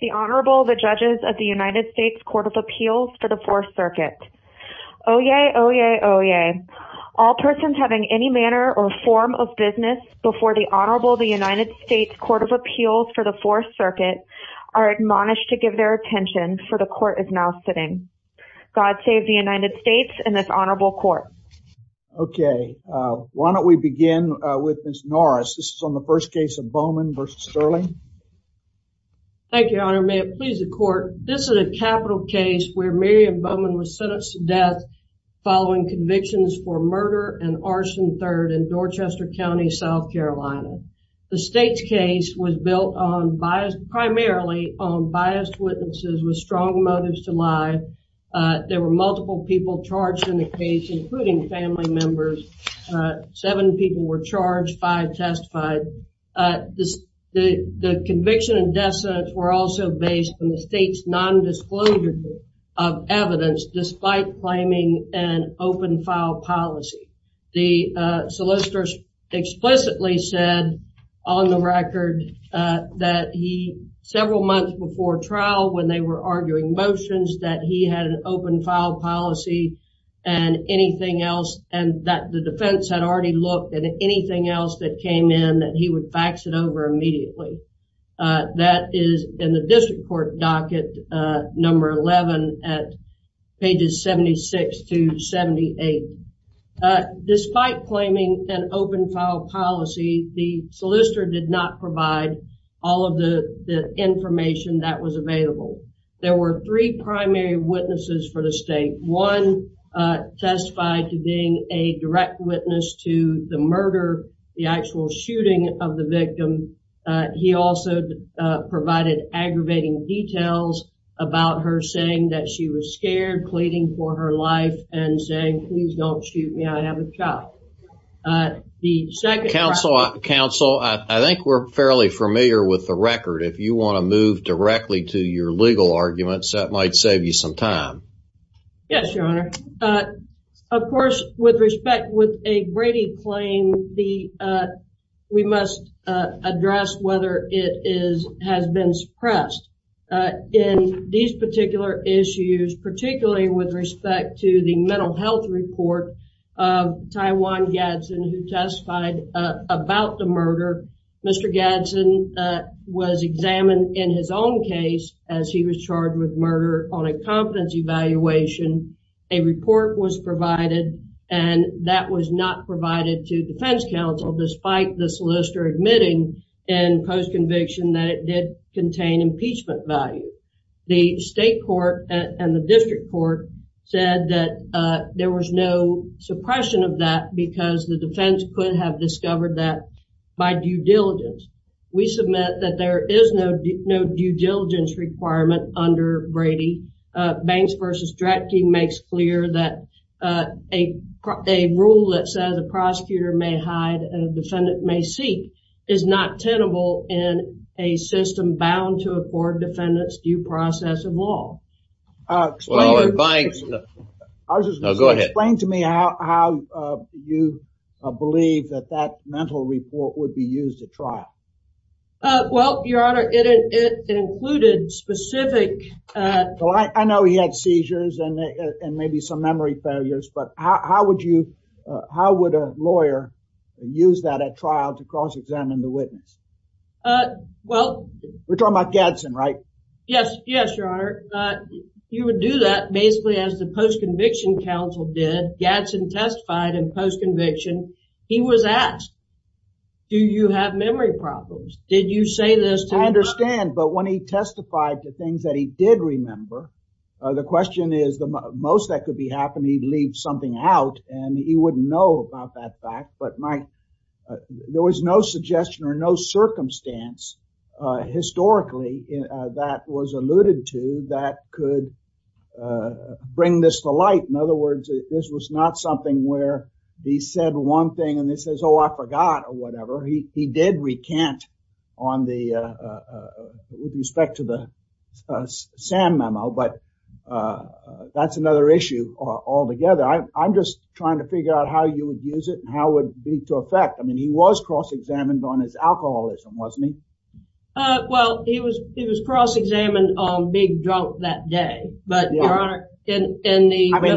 The Honorable, the Judges of the United States Court of Appeals for the Fourth Circuit. Oyez, oyez, oyez. All persons having any manner or form of business before the Honorable, the United States Court of Appeals for the Fourth Circuit are admonished to give their attention, for the Court is now sitting. God save the United States and this Honorable Court. Okay, why don't we begin with Ms. Norris. This is on the first case of Bowman v. Stirling. Thank you, Your Honor. May it please the Court. This is a capital case where Miriam Bowman was sentenced to death following convictions for murder and arson, third, in Dorchester County, South Carolina. The state's case was built primarily on biased witnesses with strong motives to lie. There were multiple people charged in the case, including family members. Seven people were charged, five testified. The conviction and death sentence were also based on the state's nondisclosure of evidence despite claiming an open file policy. The solicitors explicitly said on the record that he, several months before trial when they were arguing motions, that he had an open file policy and anything else and that the defense had already looked at anything else that came in that he would fax it over immediately. That is in the district court docket number 11 at pages 76 to 78. Despite claiming an open file policy, the solicitor did not provide all of the information that was available. There were three primary witnesses for the state. One testified to being a direct witness to the murder, the actual shooting of the victim. He also provided aggravating details about her saying that she was scared, pleading for her life, and saying, please don't shoot me, I have a child. The second- Counsel, I think we're fairly familiar with the record. If you want to move directly to your legal arguments, that might save you some time. Yes, Your Honor. Of course, with respect with a Brady claim, we must address whether it has been suppressed. In these particular issues, particularly with respect to the mental health report of Tywan Gadson who testified about the murder, Mr. Gadson was examined in his own case as he was charged with murder on a confidence evaluation. A report was provided, and that was not provided to defense counsel despite the solicitor admitting in post-conviction that it did contain impeachment value. The state court and the district court said that there was no suppression of that because the defense could have discovered that by due diligence. We submit that there is no due diligence requirement under Brady. Banks v. Drapke makes clear that a rule that says a prosecutor may hide and a defendant may seek is not tenable in a system bound to afford defendants due process of law. Explain to me how you believe that that mental report would be used at trial. Well, Your Honor, it included specific... I know he had seizures and maybe some memory failures, but how would a lawyer use that at trial to cross-examine the witness? Well... We're talking about Gadson, right? Yes, Your Honor. You would do that basically as the post-conviction counsel did. Gadson testified in post-conviction. He was asked, do you have memory problems? Did you say this to him? I understand, but when he testified to things that he did remember, the question is the most that could be happening, he'd leave something out and he wouldn't know about that fact. There was no suggestion or no circumstance historically that was alluded to that could bring this to light. In other words, this was not something where he said one thing and then says, oh, I forgot or whatever. He did recant with respect to the Sam memo, but that's another issue altogether. I'm just trying to figure out how you would use it and how it would be to effect. I mean, he was cross-examined on his alcoholism, wasn't he? Well, he was cross-examined on being drunk that day. But, Your Honor, in the... The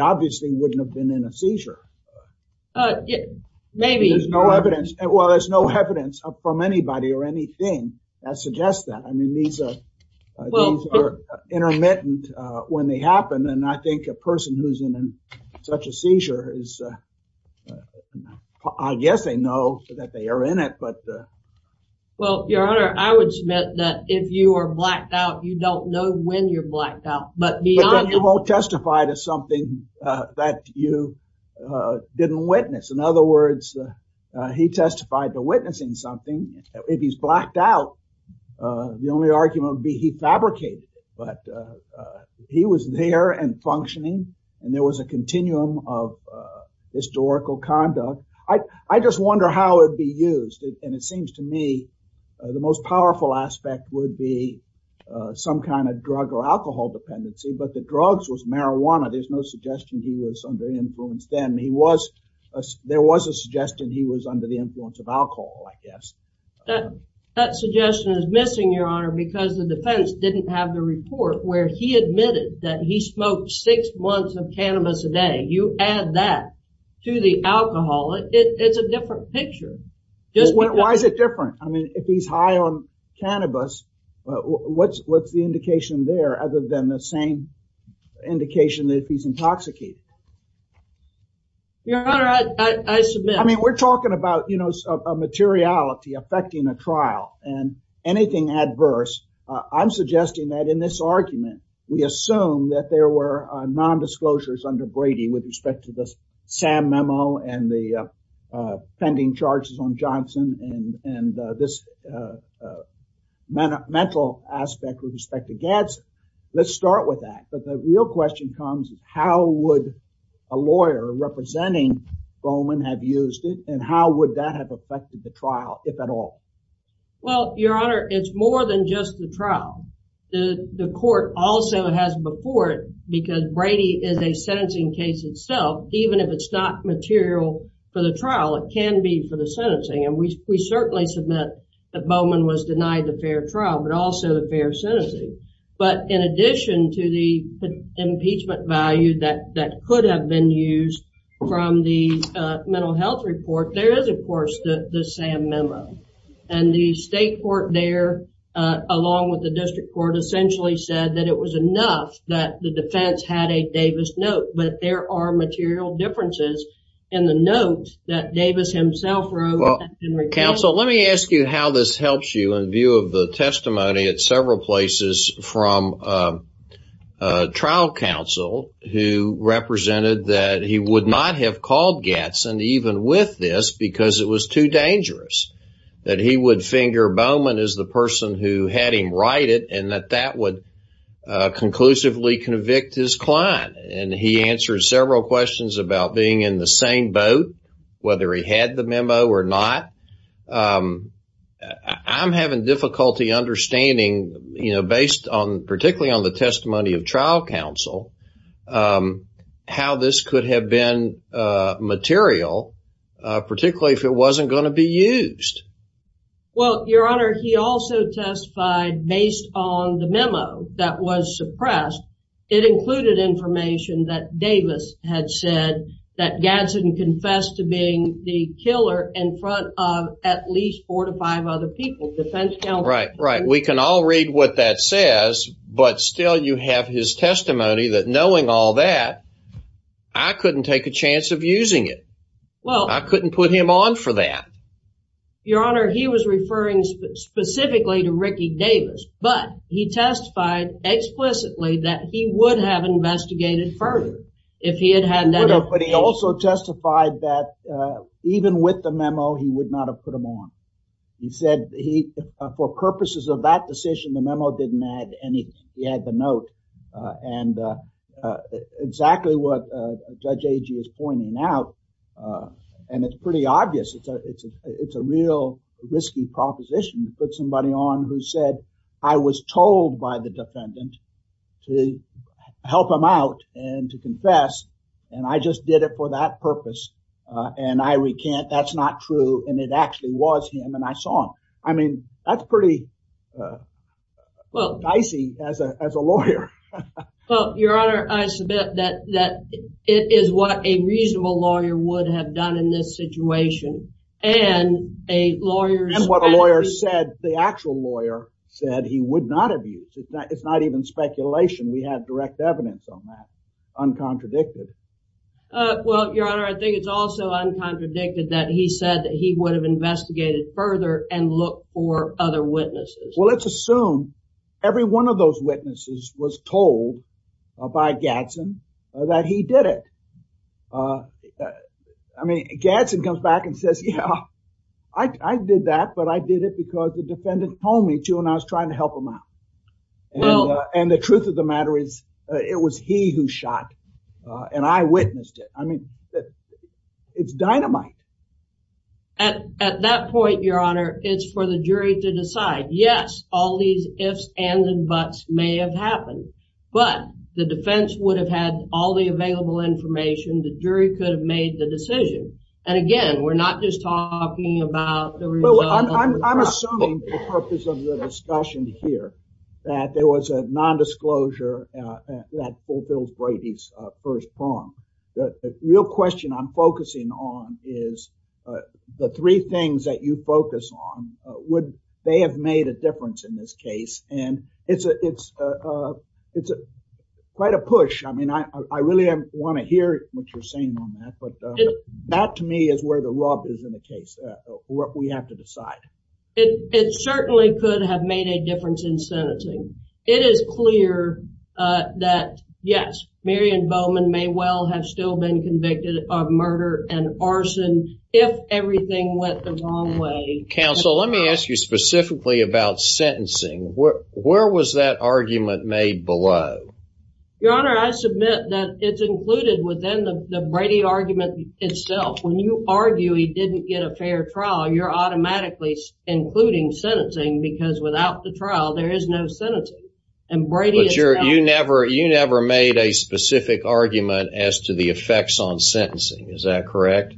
obvious thing wouldn't have been in a seizure. Maybe. Well, there's no evidence from anybody or anything that suggests that. I mean, these are intermittent when they happen. And I think a person who's in such a seizure is... I guess they know that they are in it, but... Well, Your Honor, I would submit that if you are blacked out, you don't know when you're blacked out. But then you won't testify to something that you didn't witness. In other words, he testified to witnessing something. If he's blacked out, the only argument would be he fabricated it. But he was there and functioning and there was a continuum of historical conduct. I just wonder how it would be used. And it seems to me the most powerful aspect would be some kind of drug or alcohol dependency. But the drugs was marijuana. There's no suggestion he was under influence then. There was a suggestion he was under the influence of alcohol, I guess. That suggestion is missing, Your Honor, because the defense didn't have the report where he admitted that he smoked six months of cannabis a day. You add that to the alcohol, it's a different picture. Why is it different? I mean, if he's high on cannabis, what's the indication there other than the same indication that he's intoxicated? Your Honor, I submit... I mean, we're talking about, you know, a materiality affecting a trial and anything adverse. I'm suggesting that in this argument, we assume that there were non-disclosures under Brady with respect to the Sam memo and the pending charges on Johnson and this mental aspect with respect to Gadsden. Let's start with that. But the real question comes, how would a lawyer representing Bowman have used it? And how would that have affected the trial, if at all? Well, Your Honor, it's more than just the trial. The court also has before it, because Brady is a sentencing case itself, even if it's not material for the trial, it can be for the sentencing. And we certainly submit that Bowman was denied the fair trial, but also the fair sentencing. But in addition to the impeachment value that could have been used from the mental health report, there is, of course, the Sam memo. And the state court there, along with the district court, essentially said that it was enough that the defense had a Davis note. But there are material differences in the note that Davis himself wrote. Counsel, let me ask you how this helps you in view of the testimony at several places from trial counsel who represented that he would not have called Gadsden even with this because it was too dangerous. That he would finger Bowman as the person who had him write it and that that would conclusively convict his client. And he answered several questions about being in the same boat, whether he had the memo or not. I'm having difficulty understanding, you know, based on particularly on the testimony of trial counsel, how this could have been material, particularly if it wasn't going to be used. Well, your honor, he also testified based on the memo that was suppressed. It included information that Davis had said that Gadsden confessed to being the killer in front of at least four to five other people. We can all read what that says, but still you have his testimony that knowing all that I couldn't take a chance of using it. Well, I couldn't put him on for that. Your honor, he was referring specifically to Ricky Davis, but he testified explicitly that he would have investigated further if he had had that. But he also testified that even with the memo, he would not have put him on. He said he for purposes of that decision, the memo didn't add any. He had the note and exactly what Judge Agee is pointing out. And it's pretty obvious it's a it's a it's a real risky proposition to put somebody on who said I was told by the defendant to help him out and to confess. And I just did it for that purpose. And I recant. That's not true. And it actually was him. And I saw him. I mean, that's pretty well, I see as a lawyer. Well, your honor, I submit that that is what a reasonable lawyer would have done in this situation. And a lawyer and what a lawyer said, the actual lawyer said he would not have used it. It's not even speculation. We have direct evidence on that. Uncontradicted. Well, your honor, I think it's also uncontradicted that he said that he would have investigated further and look for other witnesses. Well, let's assume every one of those witnesses was told by Gadsden that he did it. I mean, Gadsden comes back and says, yeah, I did that, but I did it because the defendant told me to and I was trying to help him out. And the truth of the matter is, it was he who shot and I witnessed it. I mean, it's dynamite. At that point, your honor, it's for the jury to decide. Yes, all these ifs ands and buts may have happened, but the defense would have had all the available information. The jury could have made the decision. And again, we're not just talking about the result. I'm assuming the purpose of the discussion here that there was a nondisclosure that fulfills Brady's first prong. The real question I'm focusing on is the three things that you focus on. Would they have made a difference in this case? And it's it's it's quite a push. I mean, I really want to hear what you're saying on that. But that to me is where the rub is in the case. What we have to decide. It certainly could have made a difference in sentencing. It is clear that, yes, Marion Bowman may well have still been convicted of murder and arson if everything went the wrong way. Counsel, let me ask you specifically about sentencing. Where was that argument made below? Your honor, I submit that it's included within the Brady argument itself. When you argue he didn't get a fair trial, you're automatically including sentencing because without the trial, there is no sentencing and Brady. You never you never made a specific argument as to the effects on sentencing. Is that correct?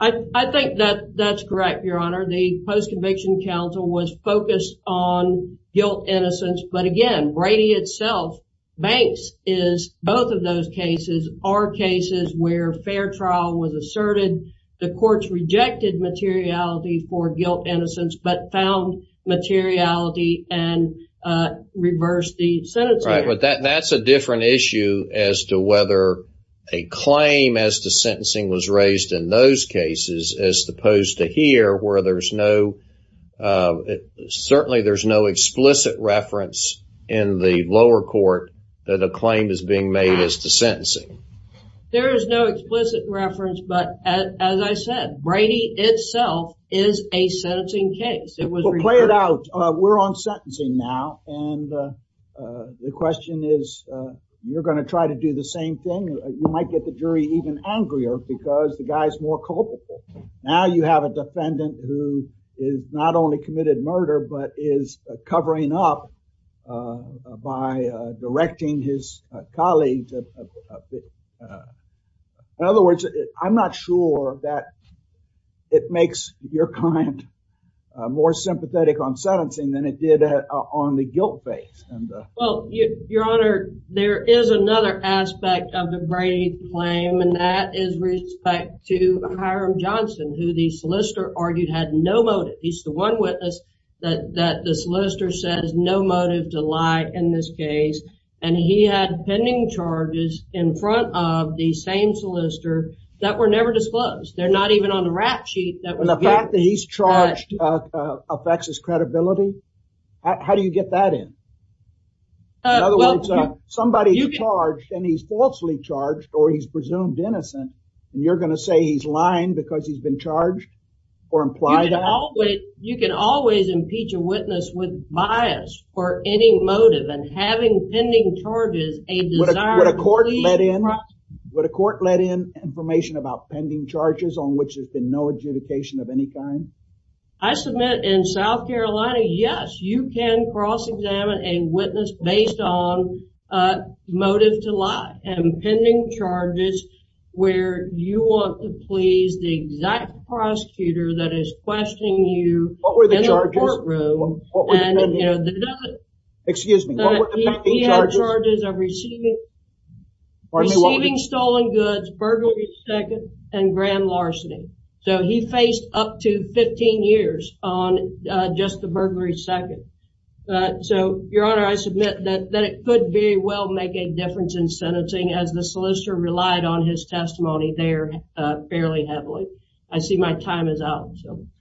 I think that that's correct. Your honor. The post-conviction counsel was focused on guilt, innocence. But again, Brady itself banks is both of those cases are cases where fair trial was asserted. The courts rejected materiality for guilt, innocence, but found materiality and reversed the sentence. Right. But that that's a different issue as to whether a claim as to sentencing was raised in those cases, as opposed to here where there's no certainly there's no explicit reference in the lower court that a claim is being made as to sentencing. There is no explicit reference. But as I said, Brady itself is a sentencing case. It was played out. We're on sentencing now. And the question is, you're going to try to do the same thing. You might get the jury even angrier because the guy's more culpable. Now you have a defendant who is not only committed murder, but is covering up by directing his colleague. In other words, I'm not sure that it makes your client more sympathetic on sentencing than it did on the guilt base. Your Honor, there is another aspect of the Brady claim, and that is respect to Hiram Johnson, who the solicitor argued had no motive. He's the one witness that that the solicitor says no motive to lie in this case. And he had pending charges in front of the same solicitor that were never disclosed. They're not even on the rap sheet. The fact that he's charged affects his credibility. How do you get that in? In other words, somebody charged and he's falsely charged or he's presumed innocent. You're going to say he's lying because he's been charged or imply that you can always impeach a witness with bias for any motive and having pending charges. Would a court let in information about pending charges on which there's been no adjudication of any kind? I submit in South Carolina, yes, you can cross-examine a witness based on motive to lie and pending charges where you want to please the exact prosecutor that is questioning you in the courtroom. Excuse me. He had charges of receiving stolen goods, burglary second, and grand larceny. So he faced up to 15 years on just the burglary second. So, Your Honor, I submit that it could very well make a difference in sentencing as the solicitor relied on his testimony there fairly heavily. I see my time is up.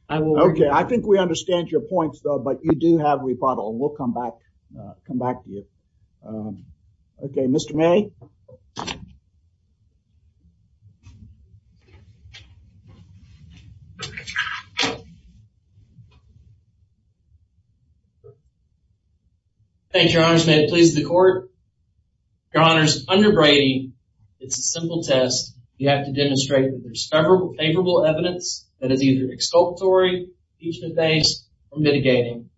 OK, I think we understand your points, though, but you do have rebuttal. We'll come back, come back to you. OK, Mr. May. Thank you, Your Honor. May it please the court. Your Honor, under Brady, it's a simple test. You have to demonstrate that there's favorable evidence that is either exculpatory, impeachment-based, or mitigating.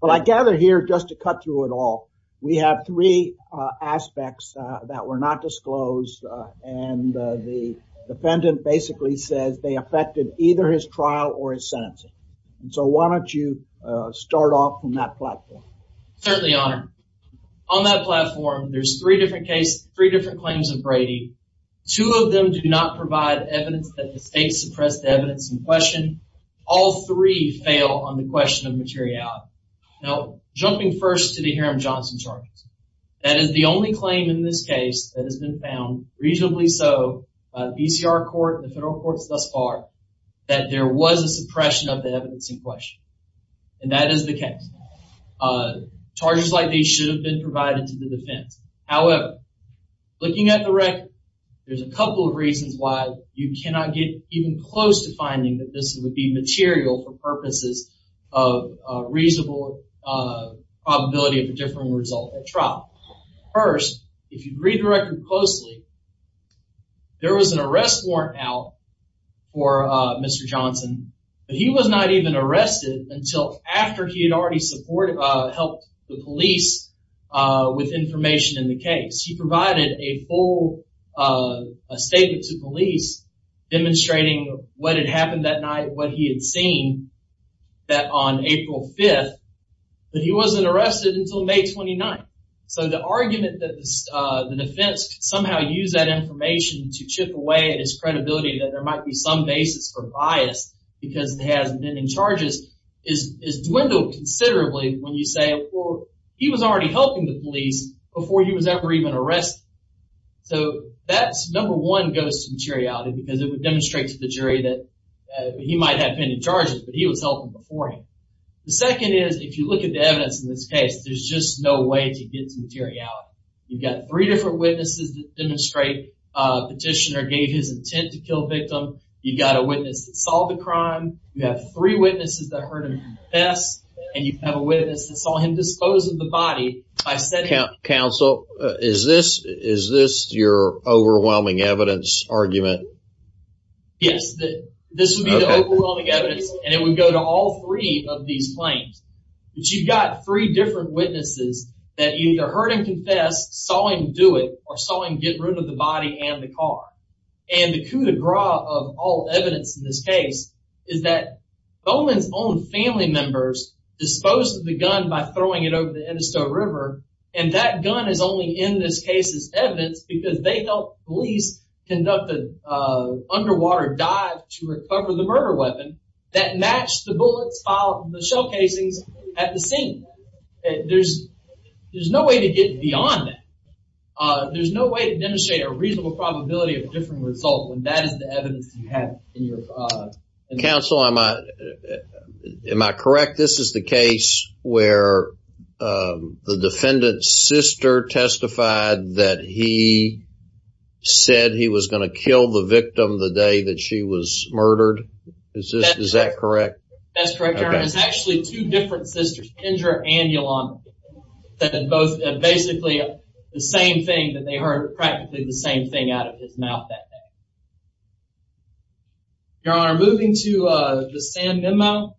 Well, I gather here, just to cut through it all, we have three aspects that were not disclosed, and the defendant basically says they affected either his trial or his sentencing. So why don't you start off on that platform? Certainly, Your Honor. On that platform, there's three different claims of Brady. Two of them do not provide evidence that the state suppressed the evidence in question. All three fail on the question of materiality. Now, jumping first to the Haram-Johnson charges, that is the only claim in this case that has been found, reasonably so, by the ECR court and the federal courts thus far, that there was a suppression of the evidence in question. And that is the case. Charges like these should have been provided to the defense. However, looking at the record, there's a couple of reasons why you cannot get even close to finding that this would be material for purposes of reasonable probability of a different result at trial. First, if you read the record closely, there was an arrest warrant out for Mr. Johnson, but he was not even arrested until after he had already helped the police with information in the case. He provided a full statement to police demonstrating what had happened that night, what he had seen on April 5th, but he wasn't arrested until May 29th. So the argument that the defense could somehow use that information to chip away at his credibility, that there might be some basis for bias because he has pending charges, is dwindled considerably when you say, well, he was already helping the police before he was ever even arrested. So that, number one, goes to materiality because it would demonstrate to the jury that he might have pending charges, but he was helping before him. The second is, if you look at the evidence in this case, there's just no way to get to materiality. You've got three different witnesses that demonstrate a petitioner gave his intent to kill a victim. You've got a witness that solved the crime. You have three witnesses that heard him confess, and you have a witness that saw him dispose of the body. Counsel, is this your overwhelming evidence argument? Yes, this would be the overwhelming evidence, and it would go to all three of these claims. But you've got three different witnesses that either heard him confess, saw him do it, or saw him get rid of the body and the car. And the coup de grace of all evidence in this case is that Bowman's own family members disposed of the gun by throwing it over the Edisto River. And that gun is only in this case as evidence because they helped police conduct an underwater dive to recover the murder weapon that matched the bullets found in the shell casings at the scene. There's no way to get beyond that. There's no way to demonstrate a reasonable probability of a different result when that is the evidence you have. Counsel, am I correct? This is the case where the defendant's sister testified that he said he was going to kill the victim the day that she was murdered? Is that correct? That's correct, Your Honor. There's actually two different sisters, Kendra and Yolanda, that said basically the same thing, that they heard practically the same thing out of his mouth that day. Your Honor, moving to the San Memo,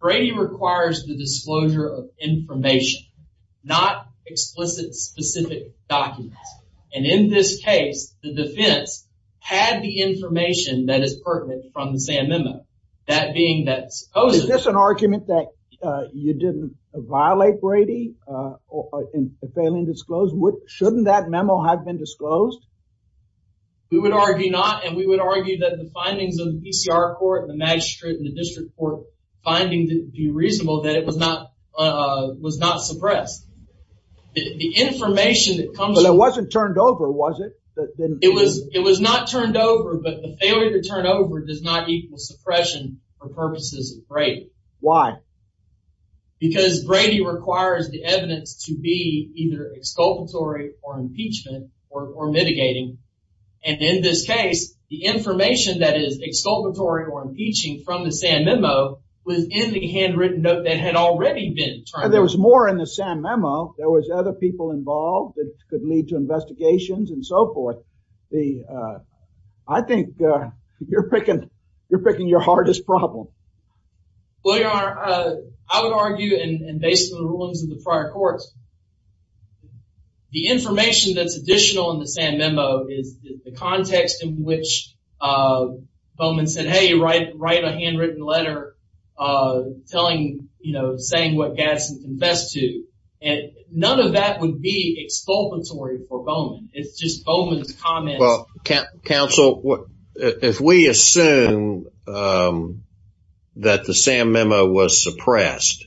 Brady requires the disclosure of information, not explicit specific documents. And in this case, the defense had the information that is pertinent from the San Memo. That being that supposedly... Is this an argument that you didn't violate Brady in failing to disclose? Shouldn't that memo have been disclosed? We would argue not, and we would argue that the findings of the PCR court and the magistrate and the district court finding to be reasonable, that it was not suppressed. But it wasn't turned over, was it? It was not turned over, but the failure to turn over does not equal suppression for purposes of Brady. Why? Because Brady requires the evidence to be either exculpatory or impeachment or mitigating. And in this case, the information that is exculpatory or impeaching from the San Memo was in the handwritten note that had already been turned over. There was more in the San Memo. There was other people involved that could lead to investigations and so forth. I think you're picking your hardest problem. Well, Your Honor, I would argue, and based on the rulings of the prior courts, the information that's additional in the San Memo is the context in which Bowman said, hey, write a handwritten letter saying what Gadsden confessed to. None of that would be exculpatory for Bowman. It's just Bowman's comments. Counsel, if we assume that the San Memo was suppressed,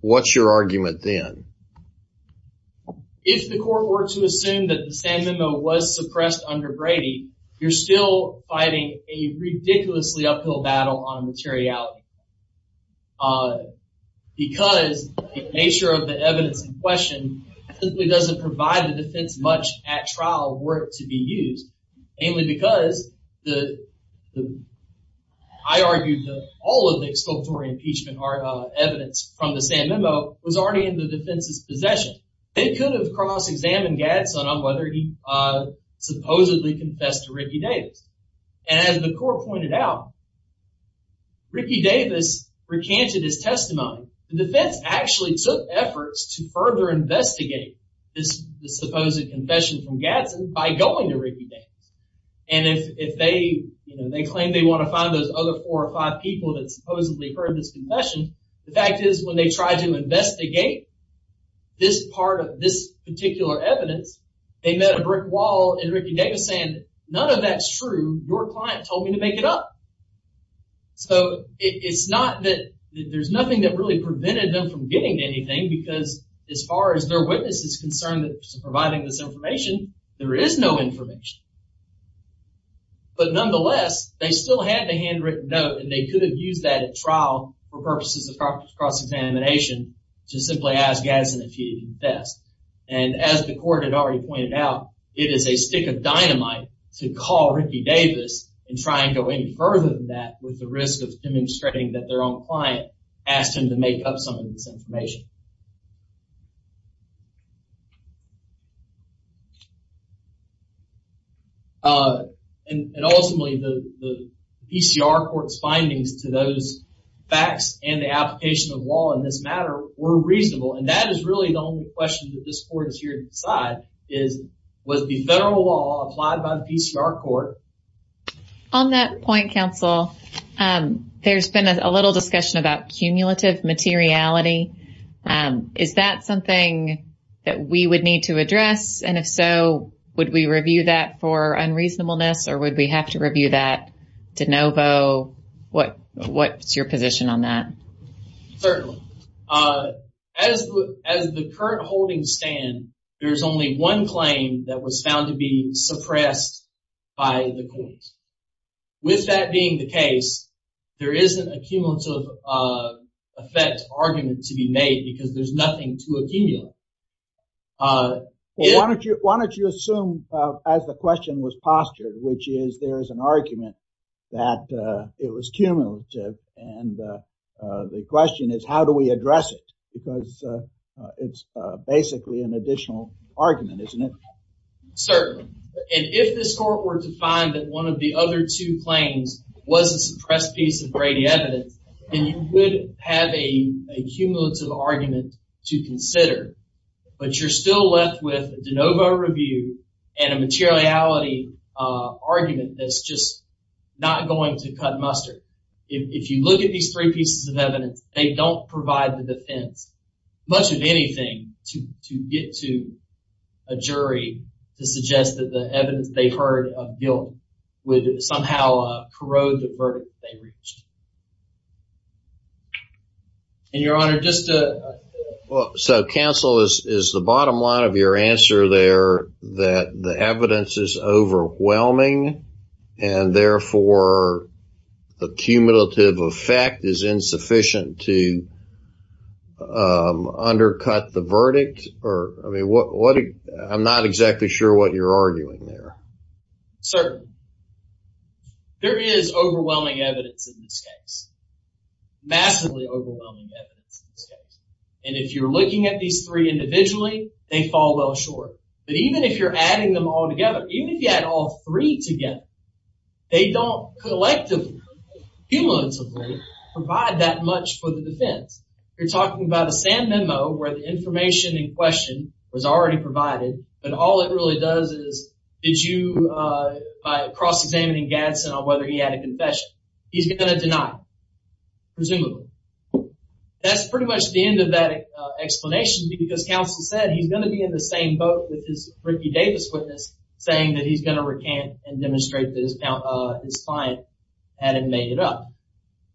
what's your argument then? If the court were to assume that the San Memo was suppressed under Brady, you're still fighting a ridiculously uphill battle on materiality. Because the nature of the evidence in question simply doesn't provide the defense much at trial work to be used. Mainly because I argue that all of the exculpatory impeachment evidence from the San Memo was already in the defense's possession. They could have cross-examined Gadsden on whether he supposedly confessed to Ricky Davis. And as the court pointed out, Ricky Davis recanted his testimony. The defense actually took efforts to further investigate this supposed confession from Gadsden by going to Ricky Davis. And if they claim they want to find those other four or five people that supposedly heard this confession, the fact is when they tried to investigate this part of this particular evidence, they met a brick wall in Ricky Davis saying, none of that's true. Your client told me to make it up. So it's not that there's nothing that really prevented them from getting anything, because as far as their witness is concerned providing this information, there is no information. But nonetheless, they still had the handwritten note, and they could have used that at trial for purposes of cross-examination to simply ask Gadsden if he confessed. And as the court had already pointed out, it is a stick of dynamite to call Ricky Davis and try and go any further than that with the risk of demonstrating that their own client asked him to make up some of this information. And ultimately, the PCR court's findings to those facts and the application of law in this matter were reasonable. And that is really the only question that this court is here to decide, was the federal law applied by the PCR court. On that point, counsel, there's been a little discussion about cumulative materiality. Is that something that we would need to address? And if so, would we review that for unreasonableness, or would we have to review that de novo? What's your position on that? Certainly. As the current holdings stand, there's only one claim that was found to be suppressed by the courts. With that being the case, there isn't a cumulative effect argument to be made because there's nothing to accumulate. Why don't you assume as the question was postured, which is there is an argument that it was cumulative. And the question is, how do we address it? Because it's basically an additional argument, isn't it? Certainly. And if this court were to find that one of the other two claims was a suppressed piece of Brady evidence, then you would have a cumulative argument to consider. But you're still left with a de novo review and a materiality argument that's just not going to cut mustard. If you look at these three pieces of evidence, they don't provide the defense, much of anything, to get to a jury to suggest that the evidence they heard of guilt would somehow corrode the verdict they reached. And, Your Honor, just to... So, counsel, is the bottom line of your answer there that the evidence is overwhelming, and therefore the cumulative effect is insufficient to undercut the verdict? I mean, I'm not exactly sure what you're arguing there. Certainly. There is overwhelming evidence in this case, massively overwhelming evidence in this case. And if you're looking at these three individually, they fall well short. But even if you're adding them all together, even if you add all three together, they don't collectively, cumulatively, provide that much for the defense. You're talking about a SAM memo where the information in question was already provided, but all it really does is, by cross-examining Gadsden on whether he had a confession, he's going to deny it, presumably. That's pretty much the end of that explanation, because counsel said he's going to be in the same boat with his Ricky Davis witness, saying that he's going to recant and demonstrate that his client hadn't made it up.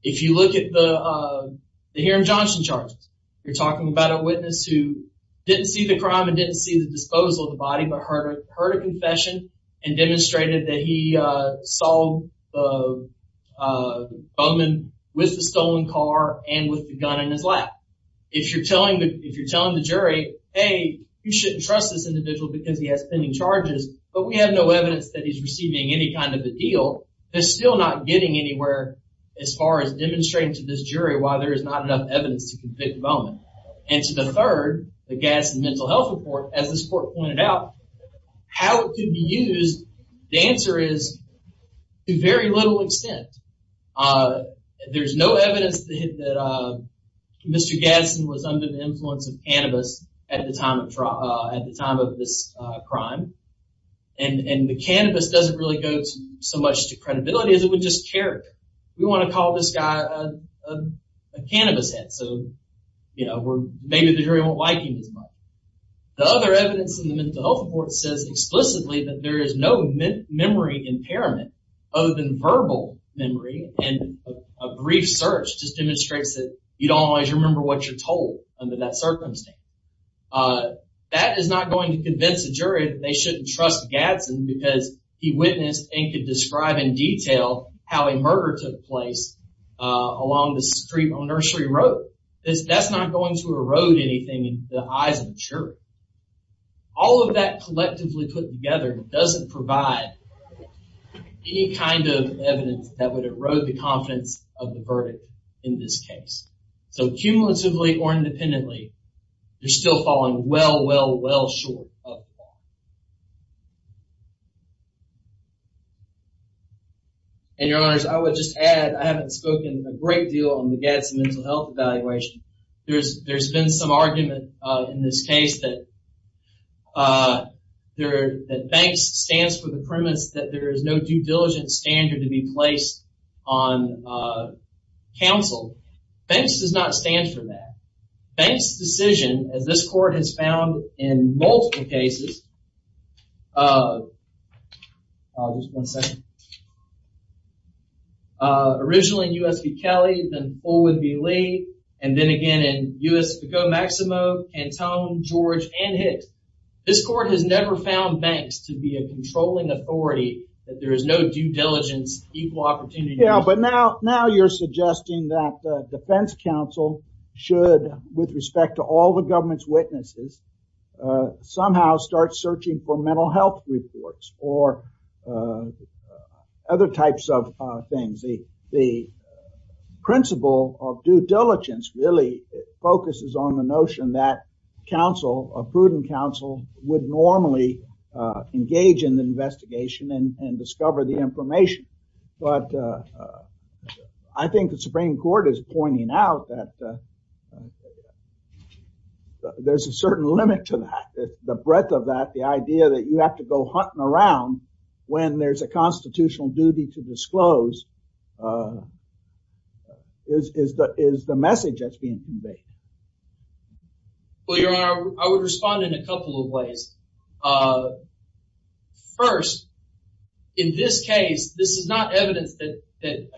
If you look at the Hiram Johnson charges, you're talking about a witness who didn't see the crime and didn't see the disposal of the body, but heard a confession and demonstrated that he saw Bowman with the stolen car and with the gun in his lap. If you're telling the jury, hey, you shouldn't trust this individual because he has pending charges, but we have no evidence that he's receiving any kind of a deal, they're still not getting anywhere as far as demonstrating to this jury why there is not enough evidence to convict Bowman. And to the third, the Gadsden mental health report, as this court pointed out, how it could be used, the answer is to very little extent. There's no evidence that Mr. Gadsden was under the influence of cannabis at the time of this crime, and the cannabis doesn't really go so much to credibility as it would just character. We want to call this guy a cannabis head, so maybe the jury won't like him as much. The other evidence in the mental health report says explicitly that there is no memory impairment other than verbal memory, and a brief search just demonstrates that you don't always remember what you're told under that circumstance. That is not going to convince the jury that they shouldn't trust Gadsden because he witnessed and could describe in detail how a murder took place along the street on Nursery Road. That's not going to erode anything in the eyes of the jury. All of that collectively put together doesn't provide any kind of evidence that would erode the confidence of the verdict in this case. So, cumulatively or independently, you're still falling well, well, well short of that. And your honors, I would just add, I haven't spoken a great deal on the Gadsden mental health evaluation. There's been some argument in this case that Banks stands for the premise that there is no due diligence standard to be placed on counsel. Banks does not stand for that. Banks' decision, as this court has found in multiple cases, originally in U.S. v. Kelly, then Fullwood v. Lee, and then again in U.S. v. Maximo, Cantone, George, and Hicks. This court has never found Banks to be a controlling authority that there is no due diligence equal opportunity. Yeah, but now you're suggesting that the defense counsel should, with respect to all the government's witnesses, somehow start searching for mental health reports or other types of things. The principle of due diligence really focuses on the notion that counsel, a prudent counsel, would normally engage in the investigation and discover the information. But I think the Supreme Court is pointing out that there's a certain limit to that, the breadth of that, the idea that you have to go hunting around when there's a constitutional duty to disclose is the message that's being conveyed. Well, your honor, I would respond in a couple of ways. First, in this case, this is not evidence that an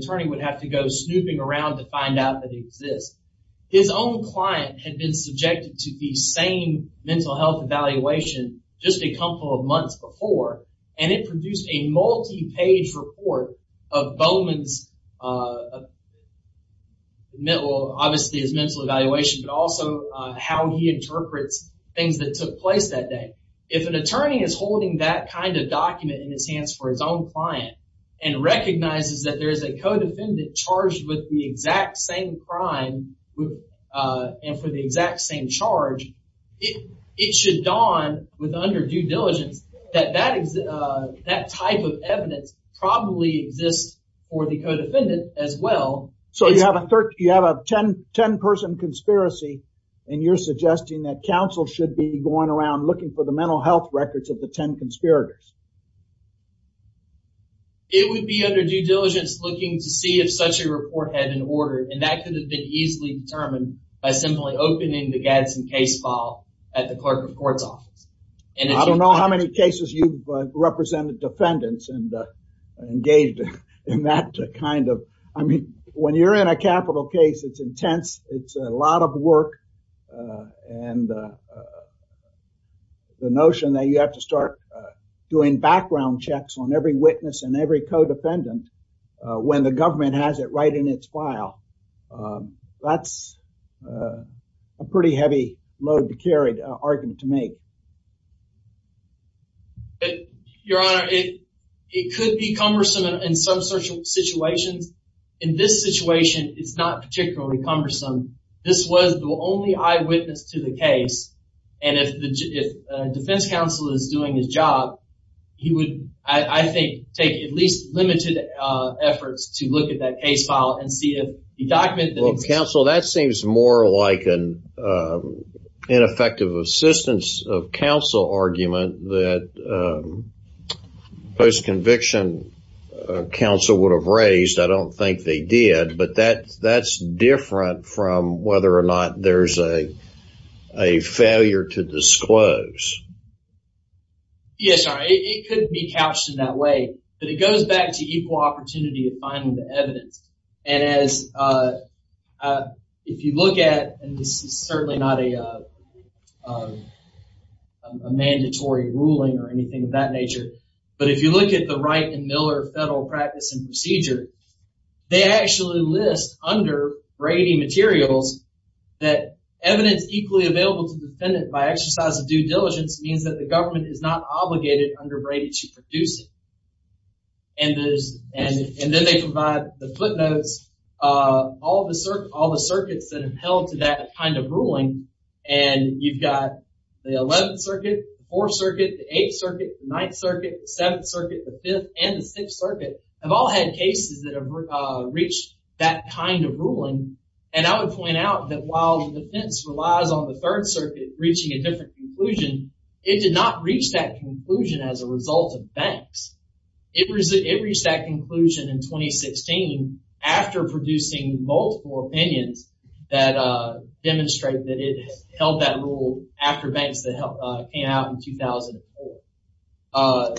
attorney would have to go snooping around to find out that he exists. His own client had been subjected to the same mental health evaluation just a couple of months before, and it produced a multi-page report of Bowman's, obviously his mental evaluation, but also how he interprets things that took place that day. If an attorney is holding that kind of document in his hands for his own client and recognizes that there is a co-defendant charged with the exact same crime and for the exact same charge, it should dawn with under due diligence that that type of evidence probably exists for the co-defendant as well. So you have a 10-person conspiracy, and you're suggesting that counsel should be going around looking for the mental health records of the 10 conspirators. It would be under due diligence looking to see if such a report had been ordered, and that could have been easily determined by simply opening the Gadsden case file at the clerk of court's office. I don't know how many cases you've represented defendants and engaged in that kind of... I mean, when you're in a capital case, it's intense, it's a lot of work, and the notion that you have to start doing background checks on every witness and every co-defendant when the government has it right in its file, that's a pretty heavy load to carry, argument to make. Your Honor, it could be cumbersome in some situations. In this situation, it's not particularly cumbersome. This was the only eyewitness to the case, and if defense counsel is doing his job, he would, I think, take at least limited efforts to look at that case file and see if he documented... Counsel, that seems more like an ineffective assistance of counsel argument that post-conviction counsel would have raised. I don't think they did, but that's different from whether or not there's a failure to disclose. Yes, Your Honor, it could be couched in that way, but it goes back to equal opportunity of finding the evidence. If you look at, and this is certainly not a mandatory ruling or anything of that nature, but if you look at the Wright and Miller Federal Practice and Procedure, they actually list under Brady materials that evidence equally available to the defendant by exercise of due diligence means that the government is not obligated under Brady to produce it. Then they provide the footnotes, all the circuits that have held to that kind of ruling, and you've got the 11th Circuit, the 4th Circuit, the 8th Circuit, the 9th Circuit, the 7th Circuit, the 5th, and the 6th Circuit have all had cases that have reached that kind of ruling, and I would point out that while the defense relies on the 3rd Circuit reaching a different conclusion, it did not reach that conclusion as a result of banks. It reached that conclusion in 2016 after producing multiple opinions that demonstrate that it held that rule after banks that came out in 2004.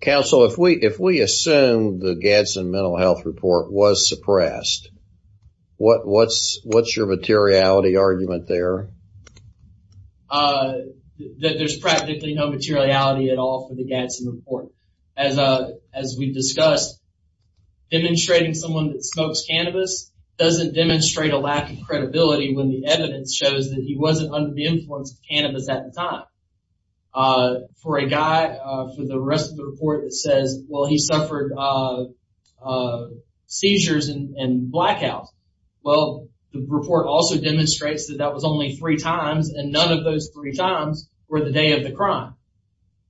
Counsel, if we assume the Gadsden Mental Health Report was suppressed, what's your materiality argument there? There's practically no materiality at all for the Gadsden Report. As we've discussed, demonstrating someone that smokes cannabis doesn't demonstrate a lack of credibility when the evidence shows that he wasn't under the influence of cannabis at the time. For a guy, for the rest of the report, it says, well, he suffered seizures and blackouts. Well, the report also demonstrates that that was only three times, and none of those three times were the day of the crime.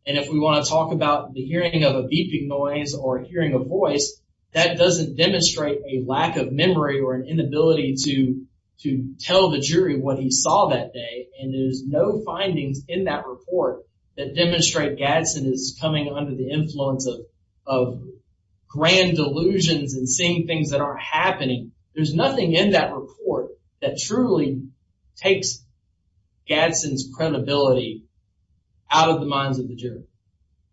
And if we want to talk about the hearing of a beeping noise or hearing a voice, that doesn't demonstrate a lack of memory or an inability to tell the jury what he saw that day, and there's no findings in that report that demonstrate Gadsden is coming under the influence of grand delusions and seeing things that aren't happening. There's nothing in that report that truly takes Gadsden's credibility out of the minds of the jury.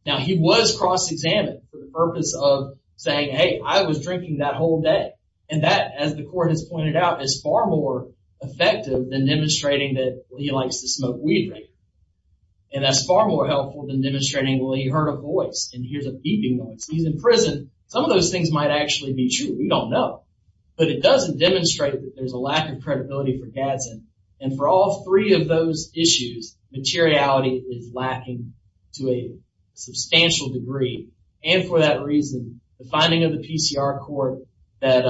Now, he was cross-examined for the purpose of saying, hey, I was drinking that whole day. And that, as the court has pointed out, is far more effective than demonstrating that he likes to smoke weed. And that's far more helpful than demonstrating, well, he heard a voice and hears a beeping noise. He's in prison. Some of those things might actually be true. We don't know. But it doesn't demonstrate that there's a lack of credibility for Gadsden. And for all three of those issues, materiality is lacking to a substantial degree. And for that reason, the finding of the PCR court that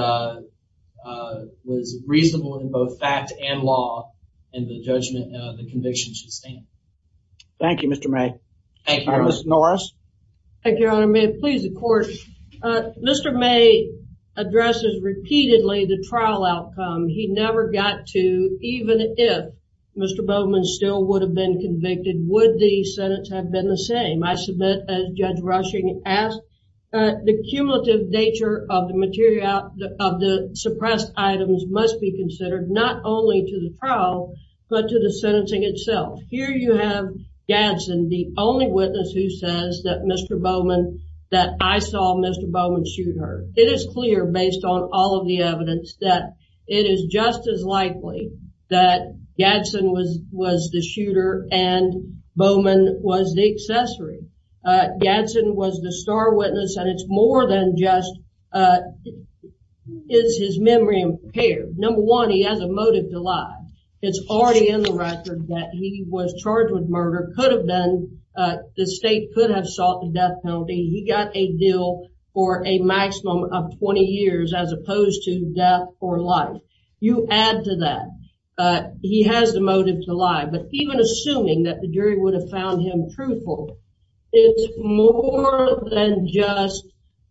was reasonable in both fact and law, and the judgment the conviction should stand. Thank you, Mr. May. Thank you, Your Honor. Ms. Norris. Thank you, Your Honor. Mr. May, please, the court. Mr. May addresses repeatedly the trial outcome. He never got to, even if Mr. Bowman still would have been convicted, would the sentence have been the same? I submit, as Judge Rushing asked, the cumulative nature of the suppressed items must be considered, not only to the trial, but to the sentencing itself. Here you have Gadsden, the only witness who says that I saw Mr. Bowman shoot her. It is clear, based on all of the evidence, that it is just as likely that Gadsden was the shooter and Bowman was the accessory. Gadsden was the star witness, and it's more than just is his memory impaired. Number one, he has a motive to lie. It's already in the record that he was charged with murder, could have been, the state could have sought the death penalty. He got a deal for a maximum of 20 years as opposed to death or life. You add to that. He has the motive to lie. But even assuming that the jury would have found him truthful, it's more than just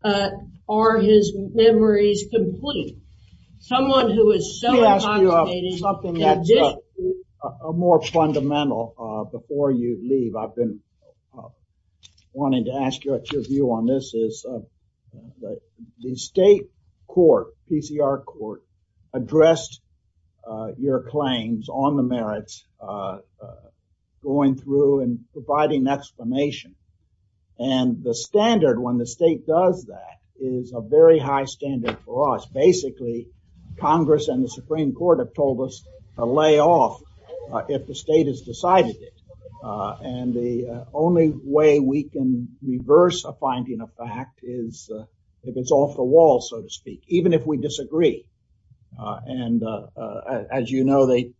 are his memories complete. Let me ask you something that's more fundamental before you leave. I've been wanting to ask you what your view on this is. The state court, PCR court, addressed your claims on the merits, going through and providing explanation. And the standard when the state does that is a very high standard for us. Basically, Congress and the Supreme Court have told us to lay off if the state has decided it. And the only way we can reverse a finding of fact is if it's off the wall, so to speak, even if we disagree. And as you know, they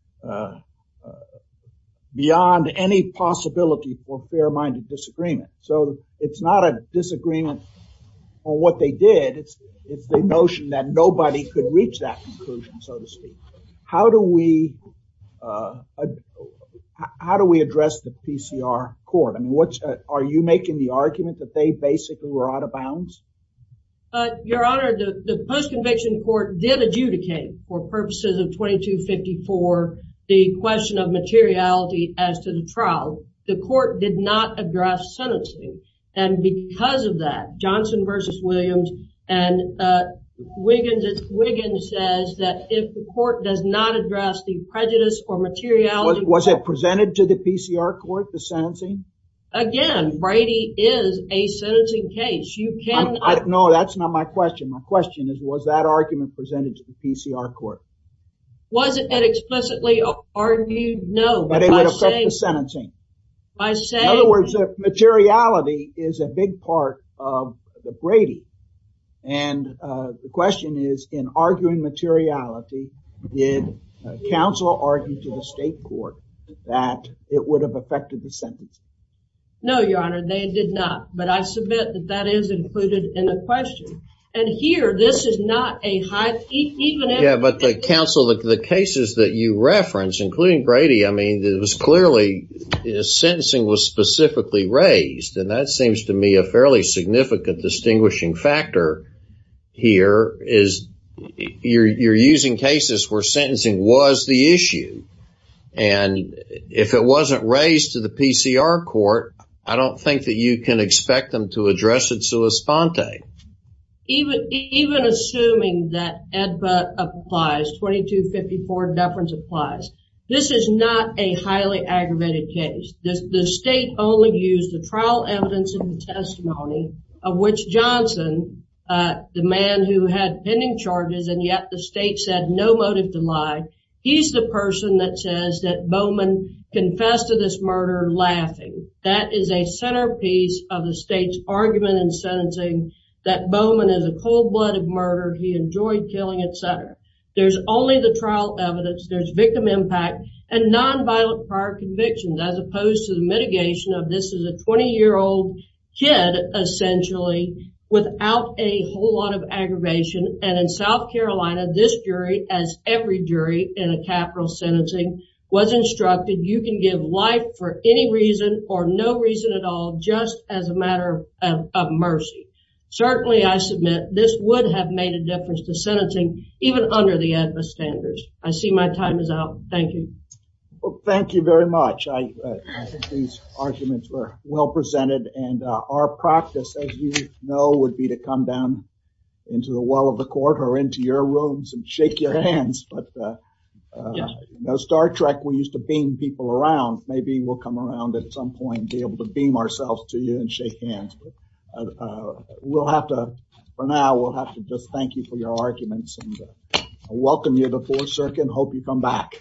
beyond any possibility for fair minded disagreement. So it's not a disagreement on what they did. It's the notion that nobody could reach that conclusion, so to speak. How do we how do we address the PCR court? And what are you making the argument that they basically were out of bounds? Your Honor, the post conviction court did adjudicate for purposes of 2254 the question of materiality as to the trial. The court did not address sentencing. And because of that, Johnson versus Williams and Wiggins, Wiggins says that if the court does not address the prejudice or materiality. Was it presented to the PCR court, the sentencing? Again, Brady is a sentencing case. You can. No, that's not my question. My question is, was that argument presented to the PCR court? Was it explicitly argued? No. But it would affect the sentencing. In other words, materiality is a big part of the Brady. And the question is, in arguing materiality, did counsel argue to the state court that it would have affected the sentence? No, Your Honor, they did not. But I submit that that is included in the question. And here, this is not a high. Yeah, but the counsel, the cases that you reference, including Brady, I mean, it was clearly sentencing was specifically raised. And that seems to me a fairly significant distinguishing factor here is you're using cases where sentencing was the issue. And if it wasn't raised to the PCR court, I don't think that you can expect them to address it sua sponte. Even assuming that EDPA applies, 2254 deference applies, this is not a highly aggravated case. The state only used the trial evidence and the testimony of which Johnson, the man who had pending charges, and yet the state said no motive to lie. He's the person that says that Bowman confessed to this murder laughing. That is a centerpiece of the state's argument in sentencing that Bowman is a cold-blooded murderer. He enjoyed killing, et cetera. There's only the trial evidence. There's victim impact and nonviolent prior convictions, as opposed to the mitigation of this is a 20-year-old kid, essentially, without a whole lot of aggravation. And in South Carolina, this jury, as every jury in a capital sentencing, was instructed you can give life for any reason or no reason at all, just as a matter of mercy. Certainly, I submit, this would have made a difference to sentencing, even under the EDPA standards. I see my time is out. Thank you. Well, thank you very much. I think these arguments were well presented. And our practice, as you know, would be to come down into the well of the court or into your rooms and shake your hands. But, you know, Star Trek, we used to beam people around. Maybe we'll come around at some point and be able to beam ourselves to you and shake hands. But we'll have to – for now, we'll have to just thank you for your arguments and welcome you to the Fourth Circuit and hope you come back.